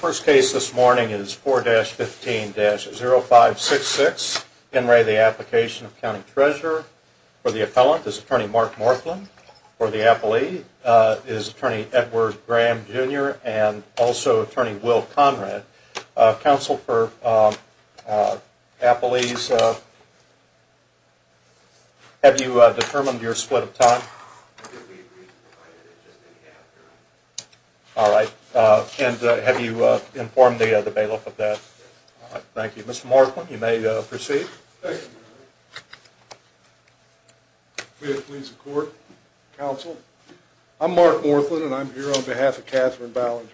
First case this morning is 4-15-0566, Henry, the Application of County Treasurer, for the Appellant is Attorney Mark Morflin, for the Appellee is Attorney Edward Graham Jr. and also Attorney Will Conrad. Counsel for Appellees, have you determined your split of time? All right, and have you informed the bailiff of that? Thank you. Mr. Morflin, you may proceed. May it please the Court, Counsel, I'm Mark Morflin and I'm here on behalf of Katherine Ballinger.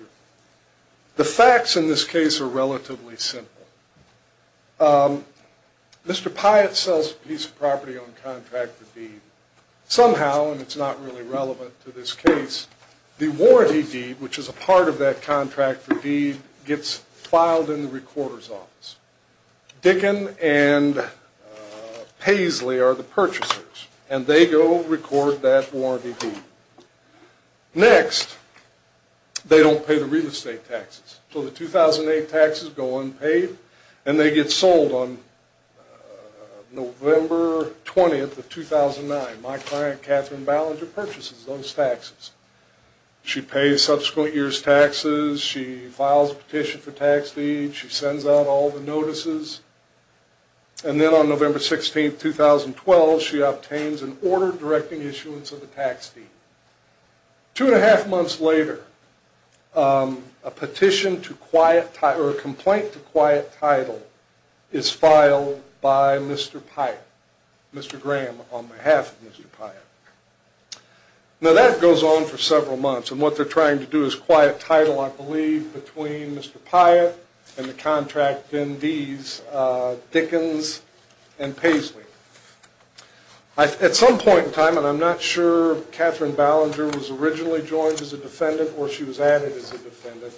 The facts in this case are relatively simple. Mr. Pyatt sells a piece of property on contract for deed. Somehow, and it's not really relevant to this case, the warranty deed, which is a part of that contract for deed, gets filed in the Recorder's Office. Dickin and Paisley are the purchasers and they go record that warranty deed. Next, they don't pay the real estate taxes, so the 2008 taxes go unpaid and they get sold on November 20th of 2009. My client, Katherine Ballinger, purchases those taxes. She pays subsequent year's taxes, she files a petition for tax deed, she sends out all the notices, and then on November 16th, 2012, she obtains an order directing issuance of the tax deed. Two and a half months later, a petition to quiet, or a complaint to quiet title, is filed by Mr. Pyatt, Mr. Graham, on behalf of Mr. Pyatt. Now that goes on for several months, and what they're trying to do is quiet title, I believe, between Mr. Pyatt and the contract DNDs, Dickins and Paisley. At some point in time, and I'm not sure if Katherine Ballinger was originally joined as a defendant or she was added as a defendant,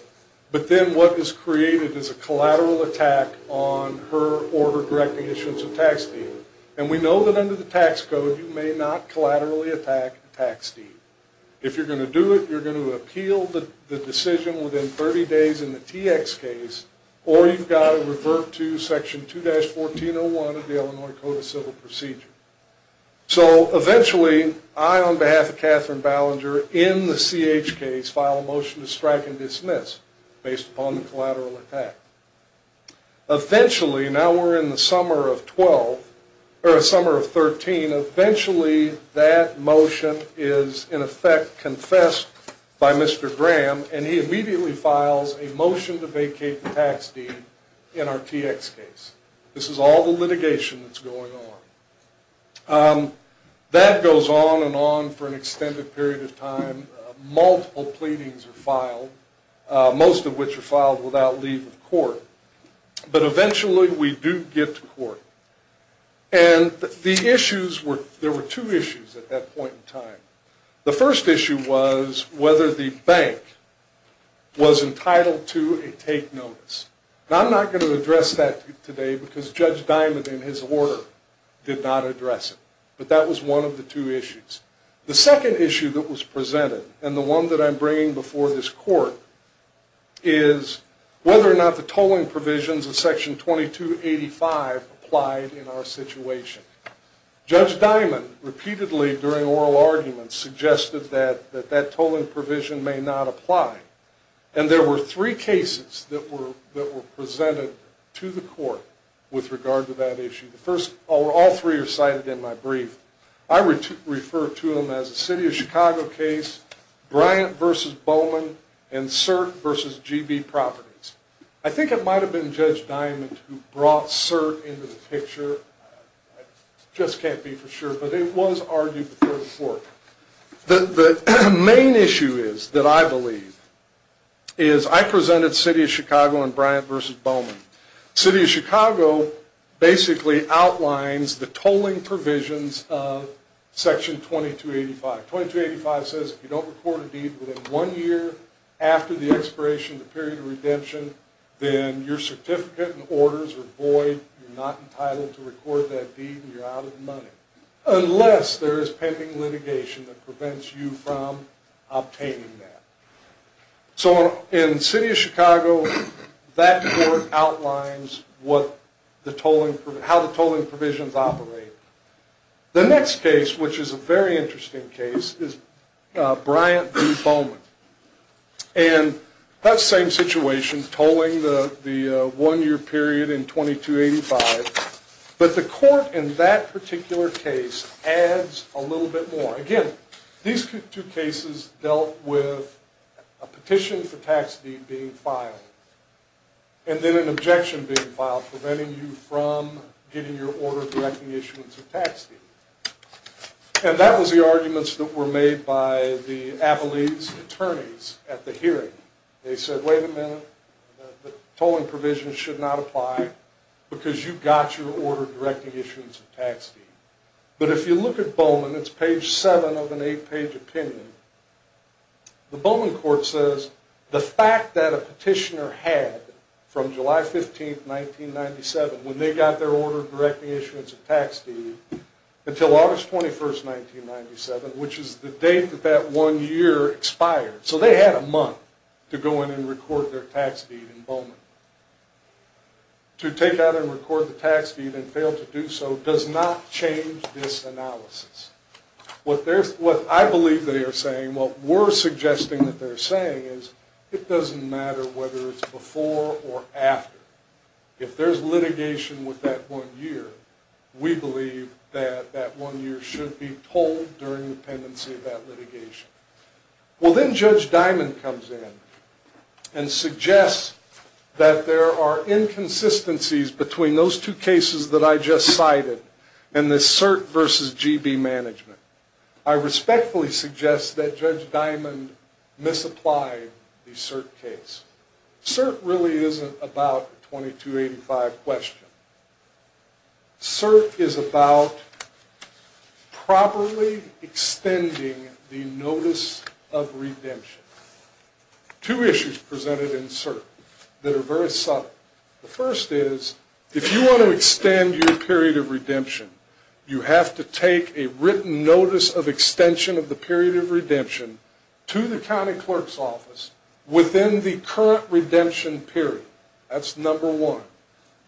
but then what is created is a collateral attack on her order directing issuance of tax deed. And we know that under the tax code, you may not collaterally attack a tax deed. If you're going to do it, you're going to appeal the decision within 30 days in the TX case, or you've got to revert to section 2-1401 of the Illinois Code of Civil Procedure. So eventually, I, on behalf of Katherine Ballinger, in the CH case, file a motion to strike and dismiss, based upon the collateral attack. Eventually, now we're in the summer of 12, or the summer of 13, eventually that motion is in effect confessed by Mr. Graham, and he immediately files a motion to vacate the tax deed in our TX case. This is all the litigation that's going on. That goes on and on for an extended period of time. Multiple pleadings are filed, most of which are filed without leave of court. But eventually, we do get to court. And the issues were, there were two issues at that point in time. The first issue was whether the bank was entitled to a take notice. And I'm not going to address that today, because Judge Diamond, in his order, did not address it. But that was one of the two issues. The second issue that was presented, and the one that I'm bringing before this court, is whether or not the tolling provisions of section 2285 applied in our situation. Judge Diamond, repeatedly, during oral arguments, suggested that that tolling provision may not apply. And there were three cases that were presented to the court with regard to that issue. The first, all three are cited in my brief. I refer to them as the City of Chicago case, Bryant v. Bowman, and Cert v. GB Properties. I think it might have been Judge Diamond who brought Cert into the picture. I just can't be for sure. But it was argued before the court. The main issue is, that I believe, is I presented City of Chicago and Bryant v. Bowman. City of Chicago basically outlines the tolling provisions of section 2285. 2285 says, if you don't record a deed within one year after the expiration of the period of redemption, then your certificate and orders are void, you're not entitled to record that deed, and you're out of money. Unless there is pending litigation that prevents you from obtaining that. So, in City of Chicago, that court outlines what the tolling, how the tolling provisions operate. The next case, which is a very interesting case, is Bryant v. Bowman. And that same situation, tolling the one-year period in 2285. But the court in that particular case adds a little bit more. Again, these two cases dealt with a petition for tax deed being filed. And then an objection being filed preventing you from getting your order directing issuance of tax deed. And that was the arguments that were made by the Avalese attorneys at the hearing. They said, wait a minute, the tolling provisions should not apply because you got your order directing issuance of tax deed. But if you look at Bowman, it's page 7 of an 8-page opinion. The Bowman court says, the fact that a petitioner had, from July 15, 1997, when they got their order directing issuance of tax deed, until August 21, 1997, which is the date that that one year expired, so they had a month to go in and record their tax deed in Bowman. To take out and record the tax deed and fail to do so does not change this analysis. What I believe they are saying, what we're suggesting that they're saying, is it doesn't matter whether it's before or after. If there's litigation with that one year, we believe that that one year should be tolled during the pendency of that litigation. Well, then Judge Diamond comes in and suggests that there are inconsistencies between those two cases that I just cited and the CERT versus GB management. I respectfully suggest that Judge Diamond misapplied the CERT case. CERT really isn't about a 2285 question. CERT is about properly extending the notice of redemption. Two issues presented in CERT that are very subtle. The first is, if you want to extend your period of redemption, you have to take a written notice of extension of the period of redemption to the county clerk's office within the current redemption period. That's number one.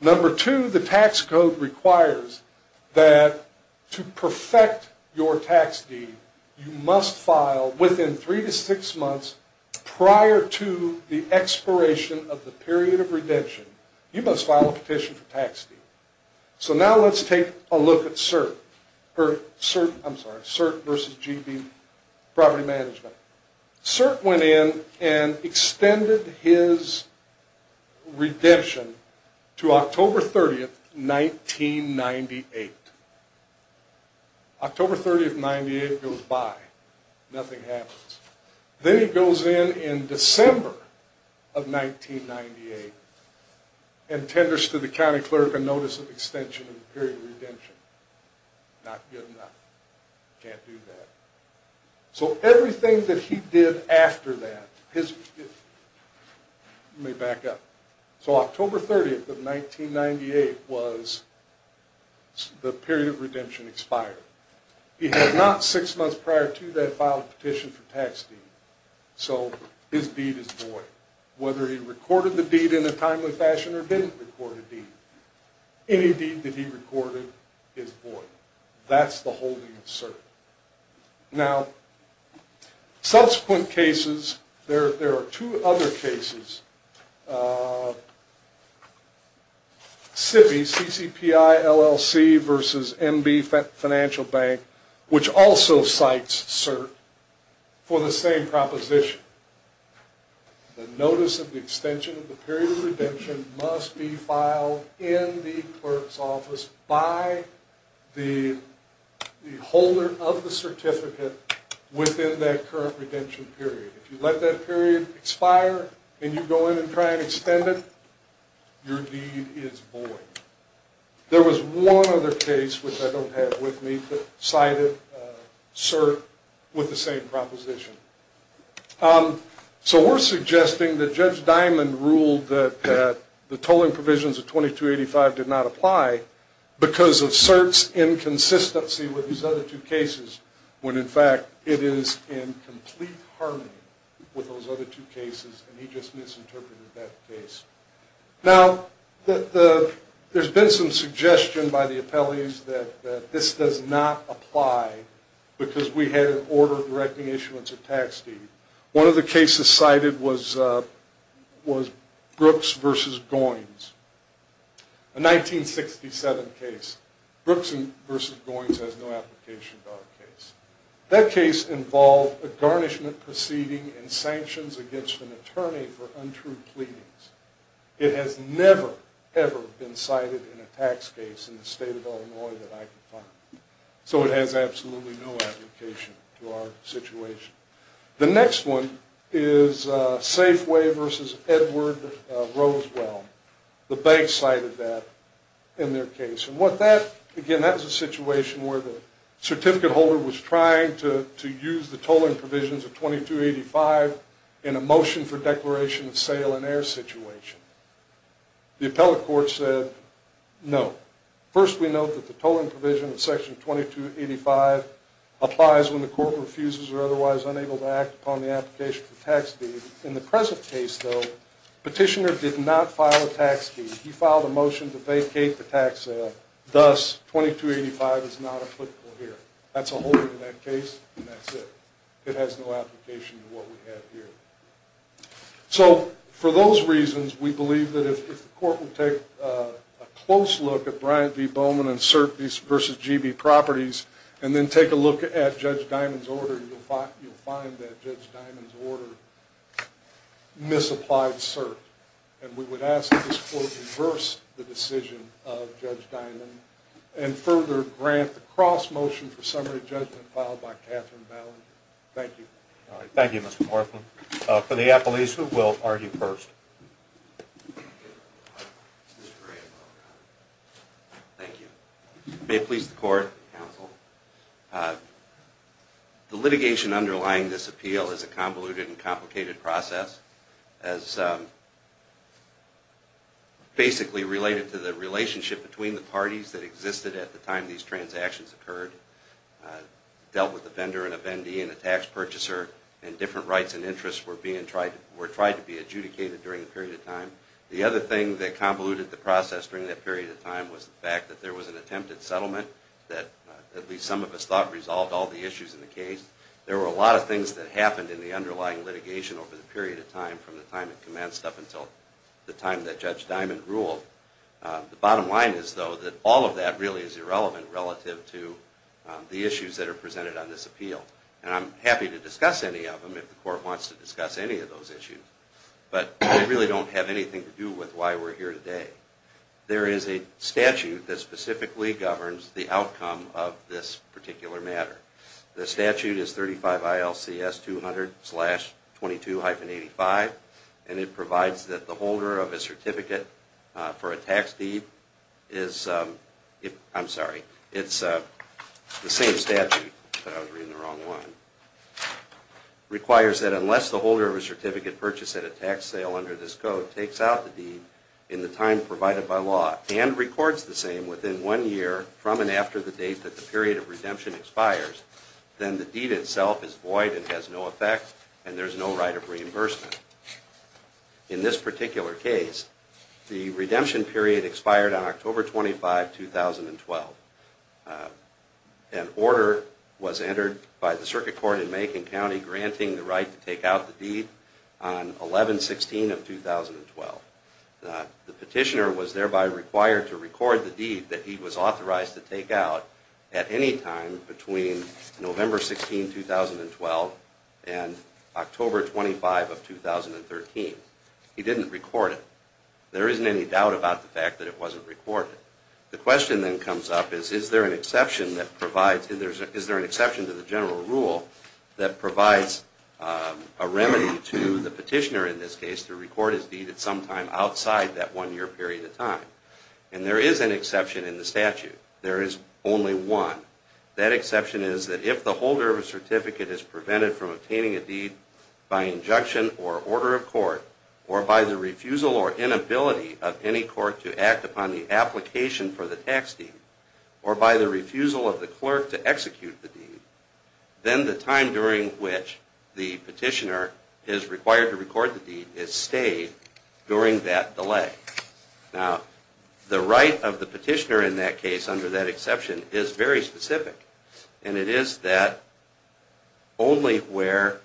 Number two, the tax code requires that to perfect your tax deed, you must file within three to six months prior to the expiration of the period of redemption. You must file a petition for tax deed. So now let's take a look at CERT versus GB property management. CERT went in and extended his redemption to October 30th, 1998. October 30th, 1998 goes by. Nothing happens. Then he goes in in December of 1998 and tenders to the county clerk a notice of extension of the period of redemption. Not good enough. Can't do that. So everything that he did after that, let me back up, so October 30th of 1998 was the period of redemption expired. He had not six months prior to that filed a petition for tax deed. So his deed is void. Whether he recorded the deed in a timely fashion or didn't record a deed. Any deed that he recorded is void. That's the holding of CERT. Now subsequent cases, there are two other cases. CIPI, C-C-P-I-L-L-C versus M-B financial bank, which also cites CERT for the same proposition. The notice of the extension of the period of redemption must be filed in the clerk's office by the holder of the certificate within that current redemption period. If you let that period expire and you go in and try and extend it, your deed is void. There was one other case, which I don't have with me, that cited CERT with the same proposition. So we're suggesting that Judge Dimond ruled that the tolling provisions of 2285 did not apply because of CERT's inconsistency with these other two cases when in fact it is in complete harmony. With those other two cases, and he just misinterpreted that case. Now, there's been some suggestion by the appellees that this does not apply because we had an order directing issuance of tax deed. One of the cases cited was Brooks versus Goins. A 1967 case. Brooks versus Goins has no application to our case. That case involved a garnishment proceeding and sanctions against an attorney for untrue pleadings. It has never, ever been cited in a tax case in the state of Illinois that I can find. So it has absolutely no application to our situation. The next one is Safeway versus Edward Rosewell. The bank cited that in their case. Again, that was a situation where the certificate holder was trying to use the tolling provisions of 2285 in a motion for declaration of sale and heir situation. The appellate court said no. First, we note that the tolling provision of section 2285 applies when the court refuses or otherwise unable to act upon the application for tax deed. In the present case, though, petitioner did not file a tax deed. He filed a motion to vacate the tax sale. Thus, 2285 is not applicable here. That's a holding in that case, and that's it. It has no application to what we have here. So for those reasons, we believe that if the court will take a close look at Bryant v. Bowman and CERT v. GB properties, and then take a look at Judge Diamond's order, you'll find that Judge Diamond's order misapplied CERT. And we would ask that this court reverse the decision of Judge Diamond and further grant the cross-motion for summary judgment filed by Catherine Ballinger. Thank you. All right. Thank you, Mr. Northland. For the appellees, who will argue first? Thank you. May it please the court, counsel. The litigation underlying this appeal is a convoluted and complicated process. It's basically related to the relationship between the parties that existed at the time these transactions occurred. It dealt with a vendor and a vendee and a tax purchaser, and different rights and interests were tried to be adjudicated during a period of time. The other thing that convoluted the process during that period of time was the fact that there was an attempted settlement that at least some of us thought resolved all the issues in the case. There were a lot of things that happened in the underlying litigation over the period of time from the time it commenced up until the time that Judge Diamond ruled. The bottom line is, though, that all of that really is irrelevant relative to the issues that are presented on this appeal. And I'm happy to discuss any of them if the court wants to discuss any of those issues. But they really don't have anything to do with why we're here today. There is a statute that specifically governs the outcome of this particular matter. The statute is 35 ILCS 200-22-85, and it provides that the holder of a certificate for a tax deed is, I'm sorry, it's the same statute, but I was reading the wrong one, requires that unless the holder of a certificate purchased at a tax sale under this code takes out the deed in the time provided by law and records the same within one year from and after the date that the period of redemption expires, then the deed itself is void and has no effect and there's no right of reimbursement. In this particular case, the redemption period expired on October 25, 2012. An order was entered by the Circuit Court in Macon County granting the right to take out the deed on 11-16 of 2012. The petitioner was thereby required to record the deed that he was authorized to take out at any time between November 16, 2012 and October 25 of 2013. He didn't record it. There isn't any doubt about the fact that it wasn't recorded. The question then comes up is, is there an exception to the general rule that provides a remedy to the petitioner, in this case, to record his deed at some time outside that one-year period of time? And there is an exception in the statute. There is only one. That exception is that if the holder of a certificate is prevented from obtaining a deed by injunction or order of court, or by the refusal or inability of any court to act upon the application for the tax deed, or by the refusal of the clerk to execute the deed, then the time during which the petitioner is required to record the deed is stayed during that delay. Now, the right of the petitioner in that case, under that exception, is very specific. And it is that only where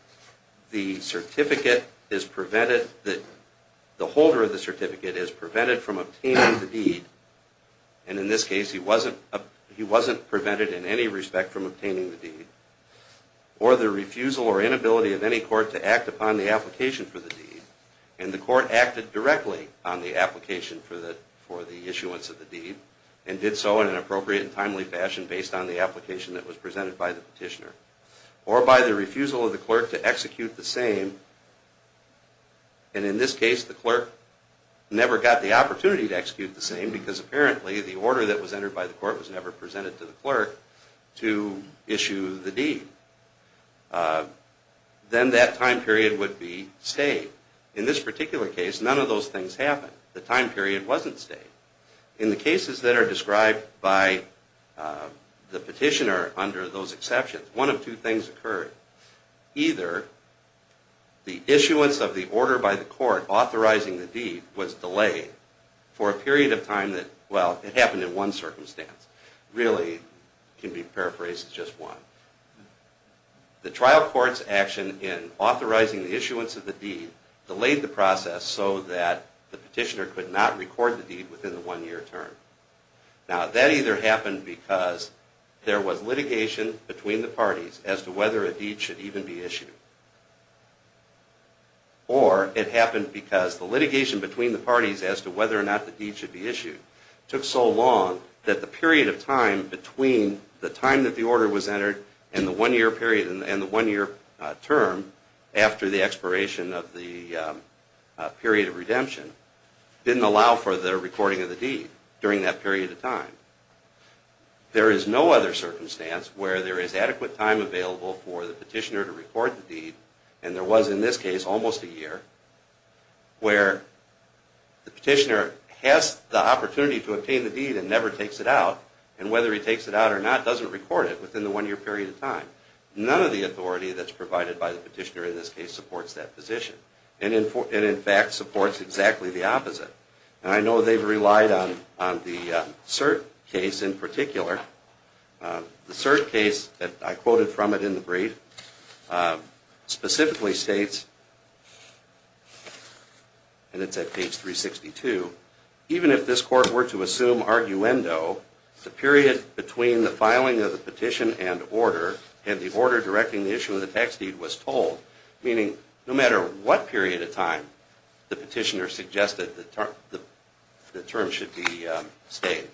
the certificate is prevented, the holder of the certificate is prevented from obtaining the deed, and in this case he wasn't prevented in any respect from obtaining the deed, or the refusal or inability of any court to act upon the application for the deed, and the court acted directly on the application for the issuance of the deed, and did so in an appropriate and timely fashion based on the application that was presented by the petitioner, or by the refusal of the clerk to execute the same, and in this case the clerk never got the opportunity to execute the same because apparently the order that was entered by the court was never presented to the clerk to issue the deed. Then that time period would be stayed. In this particular case, none of those things happened. The time period wasn't stayed. In the cases that are described by the petitioner under those exceptions, one of two things occurred. Either the issuance of the order by the court authorizing the deed was delayed for a period of time that, well, it happened in one circumstance. Really, it can be paraphrased as just one. The trial court's action in authorizing the issuance of the deed delayed the process so that the petitioner could not record the deed within the one-year term. Now, that either happened because there was litigation between the parties as to whether a deed should even be issued, or it happened because the litigation between the parties as to whether or not the deed should be issued took so long that the period of time between the time that the order was entered and the one-year term after the expiration of the period of redemption didn't allow for the recording of the deed during that period of time. There is no other circumstance where there is adequate time available for the petitioner to record the deed, and there was in this case almost a year, where the petitioner has the opportunity to obtain the deed and never takes it out, and whether he takes it out or not doesn't record it within the one-year period of time. None of the authority that's provided by the petitioner in this case supports that position, and in fact supports exactly the opposite. And I know they've relied on the cert case in particular. The cert case that I quoted from it in the brief specifically states, and it's at page 362, Meaning, no matter what period of time the petitioner suggested the term should be stayed.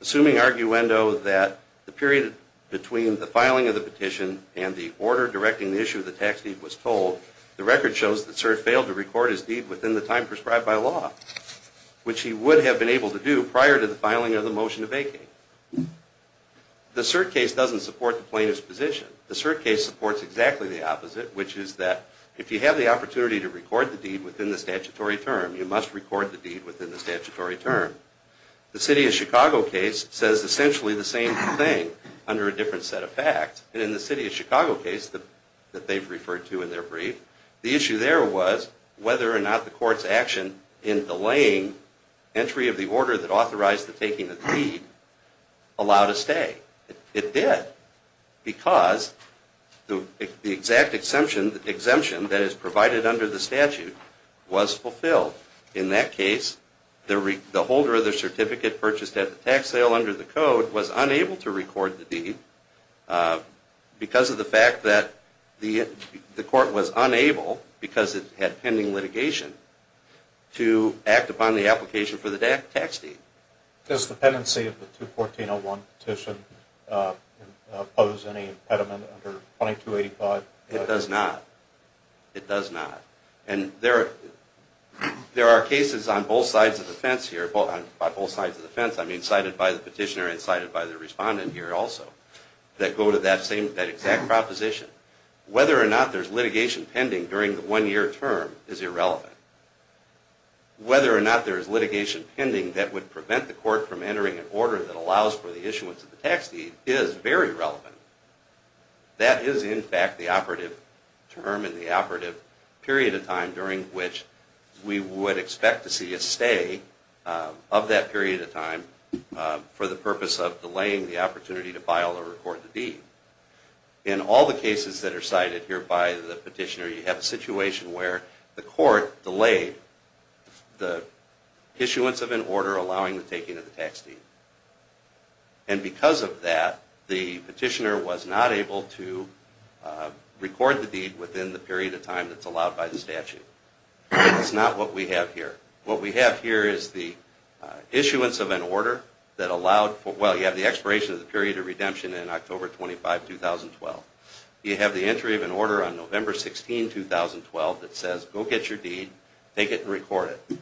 Assuming, arguendo, that the period between the filing of the petition and the order directing the issue of the tax deed was told, the record shows that cert failed to record his deed within the time prescribed by law, which he would have been able to do prior to the filing of the motion of vacating. The cert case doesn't support the plaintiff's position. The cert case supports exactly the opposite, which is that if you have the opportunity to record the deed within the statutory term, you must record the deed within the statutory term. The City of Chicago case says essentially the same thing, under a different set of facts. And in the City of Chicago case that they've referred to in their brief, the issue there was whether or not the court's action in delaying entry of the order that authorized the taking of the deed allowed a stay. It did, because the exact exemption that is provided under the statute was fulfilled. In that case, the holder of the certificate purchased at the tax sale under the code was unable to record the deed because of the fact that the court was unable, because it had pending litigation, to act upon the application for the tax deed. Does the pendency of the 214-01 petition impose any impediment under 2285? It does not. It does not. And there are cases on both sides of the fence here, by both sides of the fence, I mean cited by the petitioner and cited by the respondent here also, that go to that exact proposition. Whether or not there's litigation pending during the one-year term is irrelevant. Whether or not there is litigation pending that would prevent the court from entering an order that allows for the issuance of the tax deed is very relevant. That is, in fact, the operative term and the operative period of time during which we would expect to see a stay of that period of time for the purpose of delaying the opportunity to file or record the deed. In all the cases that are cited here by the petitioner, you have a situation where the court delayed the issuance of an order allowing the taking of the tax deed. And because of that, the petitioner was not able to record the deed within the period of time that's allowed by the statute. That's not what we have here. What we have here is the issuance of an order that allowed for, well, you have the expiration of the period of redemption in October 25, 2012. You have the entry of an order on November 16, 2012 that says, go get your deed, take it and record it.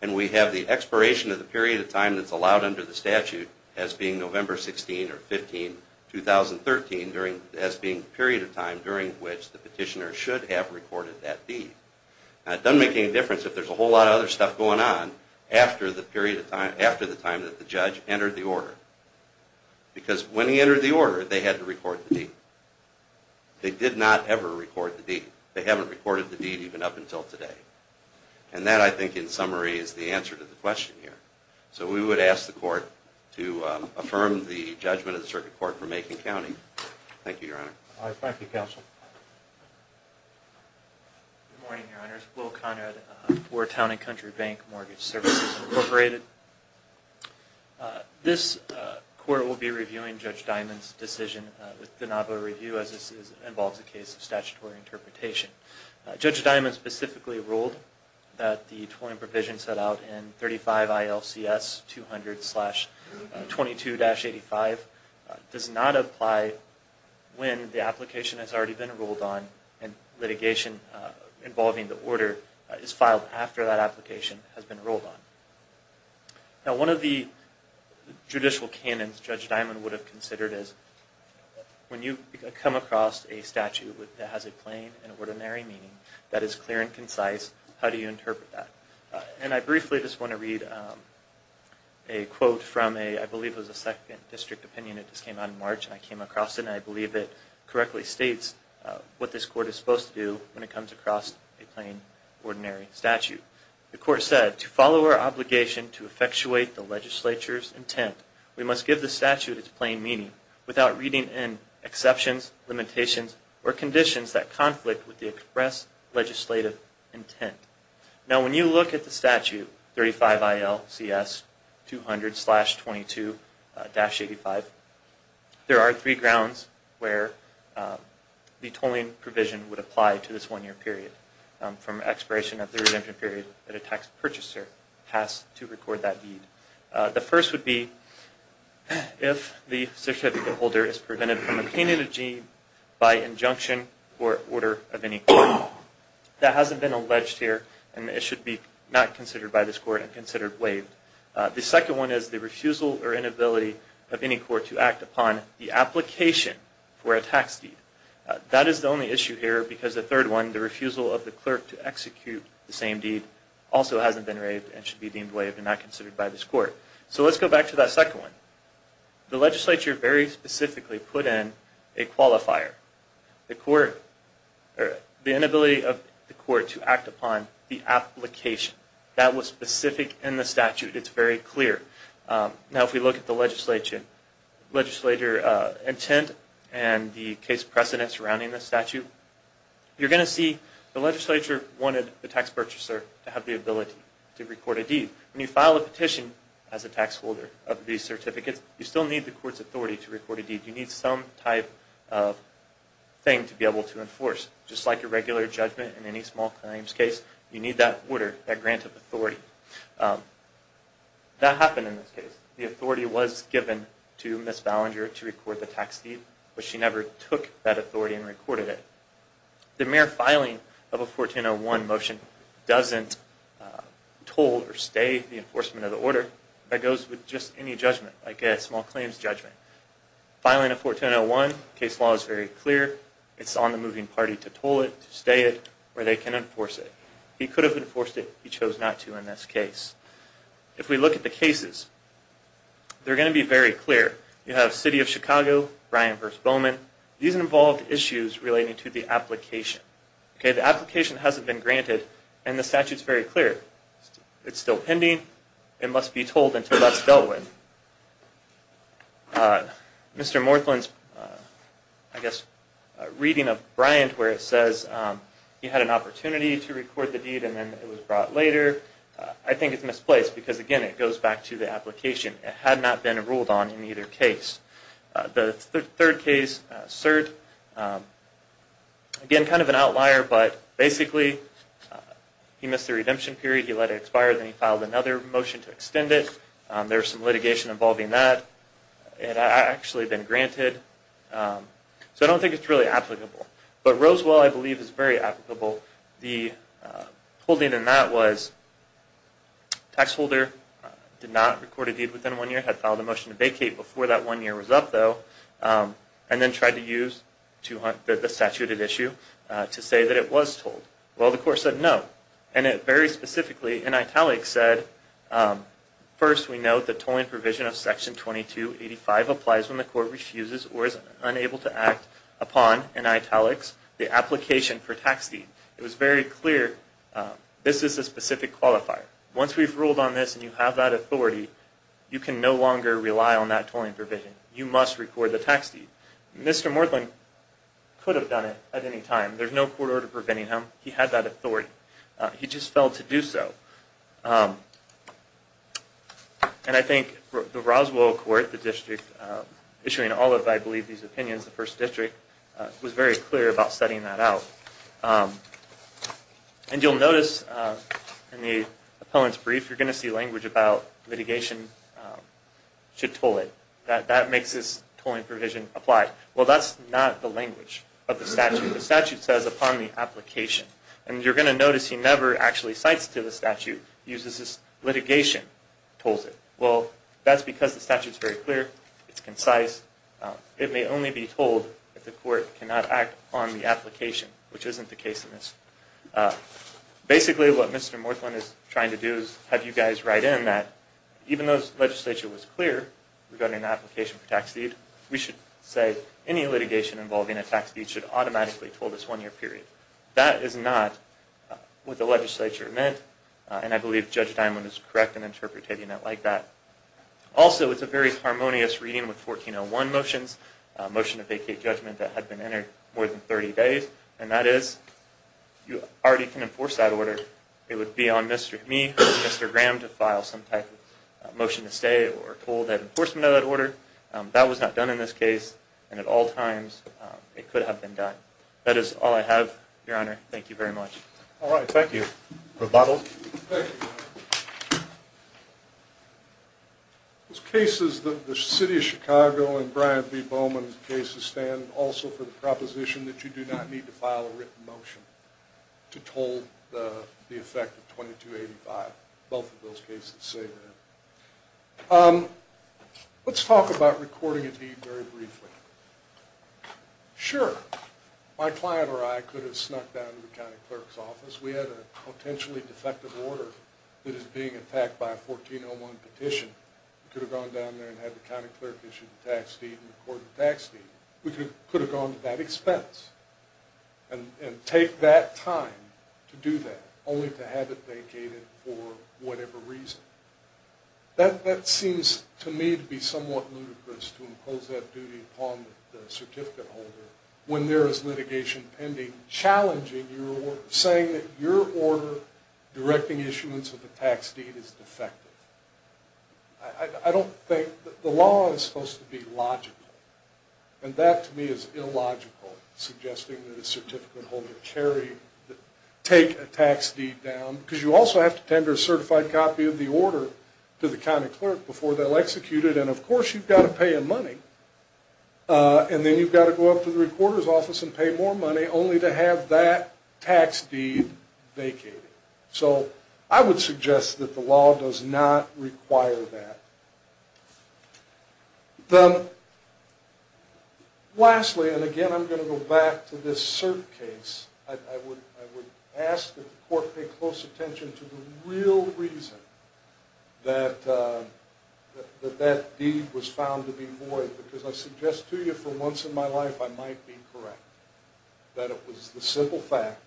And we have the expiration of the period of time that's allowed under the statute as being November 16 or 15, 2013 as being the period of time during which the petitioner should have recorded that deed. Now it doesn't make any difference if there's a whole lot of other stuff going on after the period of time, after the time that the judge entered the order. Because when he entered the order, they had to record the deed. They did not ever record the deed. They haven't recorded the deed even up until today. And that, I think, in summary, is the answer to the question here. So we would ask the Court to affirm the judgment of the Circuit Court for Macon County. Thank you, Your Honor. Thank you, Counsel. Good morning, Your Honors. Will Conrad for Town and Country Bank Mortgage Services Incorporated. This Court will be reviewing Judge Diamond's decision with the novel review as this involves a case of statutory interpretation. Judge Diamond specifically ruled that the tolling provision set out in 35 ILCS 200-22-85 does not apply when the application has already been ruled on and litigation involving the order is filed after that application has been ruled on. Now, one of the judicial canons Judge Diamond would have considered is when you come across a statute that has a plain and ordinary meaning that is clear and concise, how do you interpret that? And I briefly just want to read a quote from a, I believe it was a second district opinion that just came out in March, and I came across it, and I believe it correctly states what this Court is supposed to do when it comes across a plain, ordinary statute. The Court said, to follow our obligation to effectuate the legislature's intent, we must give the statute its plain meaning without reading in exceptions, limitations, or conditions that conflict with the express legislative intent. Now, when you look at the statute, 35 ILCS 200-22-85, there are three grounds where the tolling provision would apply to this one-year period from expiration of the redemption period that a tax purchaser has to record that deed. The first would be if the certificate holder is prevented from obtaining a deed by injunction or order of any kind. That hasn't been alleged here, and it should be not considered by this Court and considered waived. The second one is the refusal or inability of any Court to act upon the application for a tax deed. That is the only issue here, because the third one, the refusal of the clerk to execute the same deed, also hasn't been waived and should be deemed waived and not considered by this Court. So let's go back to that second one. The legislature very specifically put in a qualifier. The inability of the Court to act upon the application, that was specific in the statute. It's very clear. Now, if we look at the legislature intent and the case precedent surrounding this statute, you're going to see the legislature wanted the tax purchaser to have the ability to record a deed. When you file a petition as a tax holder of these certificates, you still need the Court's authority to record a deed. You need some type of thing to be able to enforce. Just like a regular judgment in any small claims case, you need that order, that grant of authority. That happened in this case. The authority was given to Ms. Ballinger to record the tax deed, but she never took that authority and recorded it. The mere filing of a 1401 motion doesn't toll or stay the enforcement of the order. That goes with just any judgment, like a small claims judgment. Filing a 1401 case law is very clear. It's on the moving party to toll it, to stay it, or they can enforce it. He could have enforced it. He chose not to in this case. If we look at the cases, they're going to be very clear. You have City of Chicago, Bryan v. Bowman. These involved issues relating to the application. Okay, the application hasn't been granted and the statute's very clear. It's still pending. It must be tolled until that's dealt with. Mr. Morthland's, I guess, reading of Bryant where it says he had an opportunity to record the deed and then it was brought later. I think it's misplaced because, again, it goes back to the application. It had not been ruled on in either case. The third case, CERT, again, kind of an outlier, but basically he missed the redemption period. He let it expire. Then he filed another motion to extend it. There's some litigation involving that. It had actually been granted. So I don't think it's really applicable. But Rosewell, I believe, is very applicable. The holding in that was tax holder did not record a deed within one year, had filed a motion to vacate before that one year was up, though, and then tried to use the statuted issue to say that it was tolled. Well, the court said no. And it very specifically, in italics, said, first, we note the tolling provision of Section 2285 applies when the court refuses or is unable to act upon, in italics, the application for tax deed. It was very clear this is a specific qualifier. Once we've ruled on this and you have that authority, you can no longer rely on that tolling provision. You must record the tax deed. Mr. Morthland could have done it at any time. There's no court order preventing him. He had that authority. He just failed to do so. And I think the Rosewell court, the district issuing all of, I believe, these opinions, the first district, was very clear about setting that out. And you'll notice in the appellant's brief, you're going to see language about litigation should toll it. That makes this tolling provision apply. Well, that's not the language of the statute. The statute says, upon the application. And you're going to notice he never actually cites to the statute, uses this litigation, tolls it. Well, that's because the statute's very clear. It's concise. It may only be told if the court cannot act on the application, which isn't the case in this. Basically, what Mr. Morthland is trying to do is have you guys write in that, even though the legislature was clear regarding the application for tax deed, we should say any litigation involving a tax deed should automatically toll this one-year period. That is not what the legislature meant. And I believe Judge Dimond is correct in interpreting it like that. Also, it's a very harmonious reading with 1401 motions, a motion to vacate judgment that had been entered more than 30 days. And that is, you already can enforce that order. It would be on me or Mr. Graham to file some type of motion to stay or toll that enforcement of that order. That was not done in this case. And at all times, it could have been done. That is all I have, Your Honor. Thank you very much. All right. Thank you. Rebuttal. Those cases, the City of Chicago and Brian B. Bowman's cases stand also for the proposition that you do not need to file a written motion to toll the effect of 2285. Both of those cases say that. Let's talk about recording a deed very briefly. Sure, my client or I could have snuck down to the county clerk's office. We had a potentially defective order that is being attacked by a 1401 petition. We could have gone down there and had the county clerk issue the tax deed and record the tax deed. We could have gone to that expense and take that time to do that, only to have it vacated for whatever reason. That seems to me to be somewhat ludicrous, to impose that duty upon the certificate holder when there is litigation pending, challenging your order, saying that your order directing issuance of the tax deed is defective. I don't think that the law is supposed to be logical. And that, to me, is illogical, suggesting that a certificate holder carry, take a tax deed down. Because you also have to tender a certified copy of the order to the county clerk before they'll execute it. And of course you've got to pay in money. And then you've got to go up to the recorder's office and pay more money, only to have that tax deed vacated. So I would suggest that the law does not require that. Then, lastly, and again I'm going to go back to this cert case. I would ask that the court pay close attention to the real reason that that deed was found to be void. Because I suggest to you, for once in my life, I might be correct. That it was the simple fact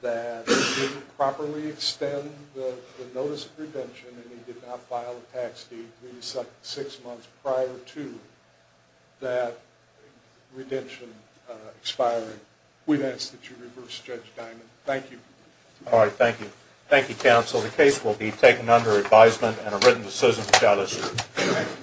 that he didn't properly extend the notice of redemption, and he did not file a tax deed three to six months prior to that redemption expiring. We'd ask that you reverse Judge Diamond. Thank you. All right. Thank you. Thank you, counsel. The case will be taken under advisement and are written to Susan Michalis.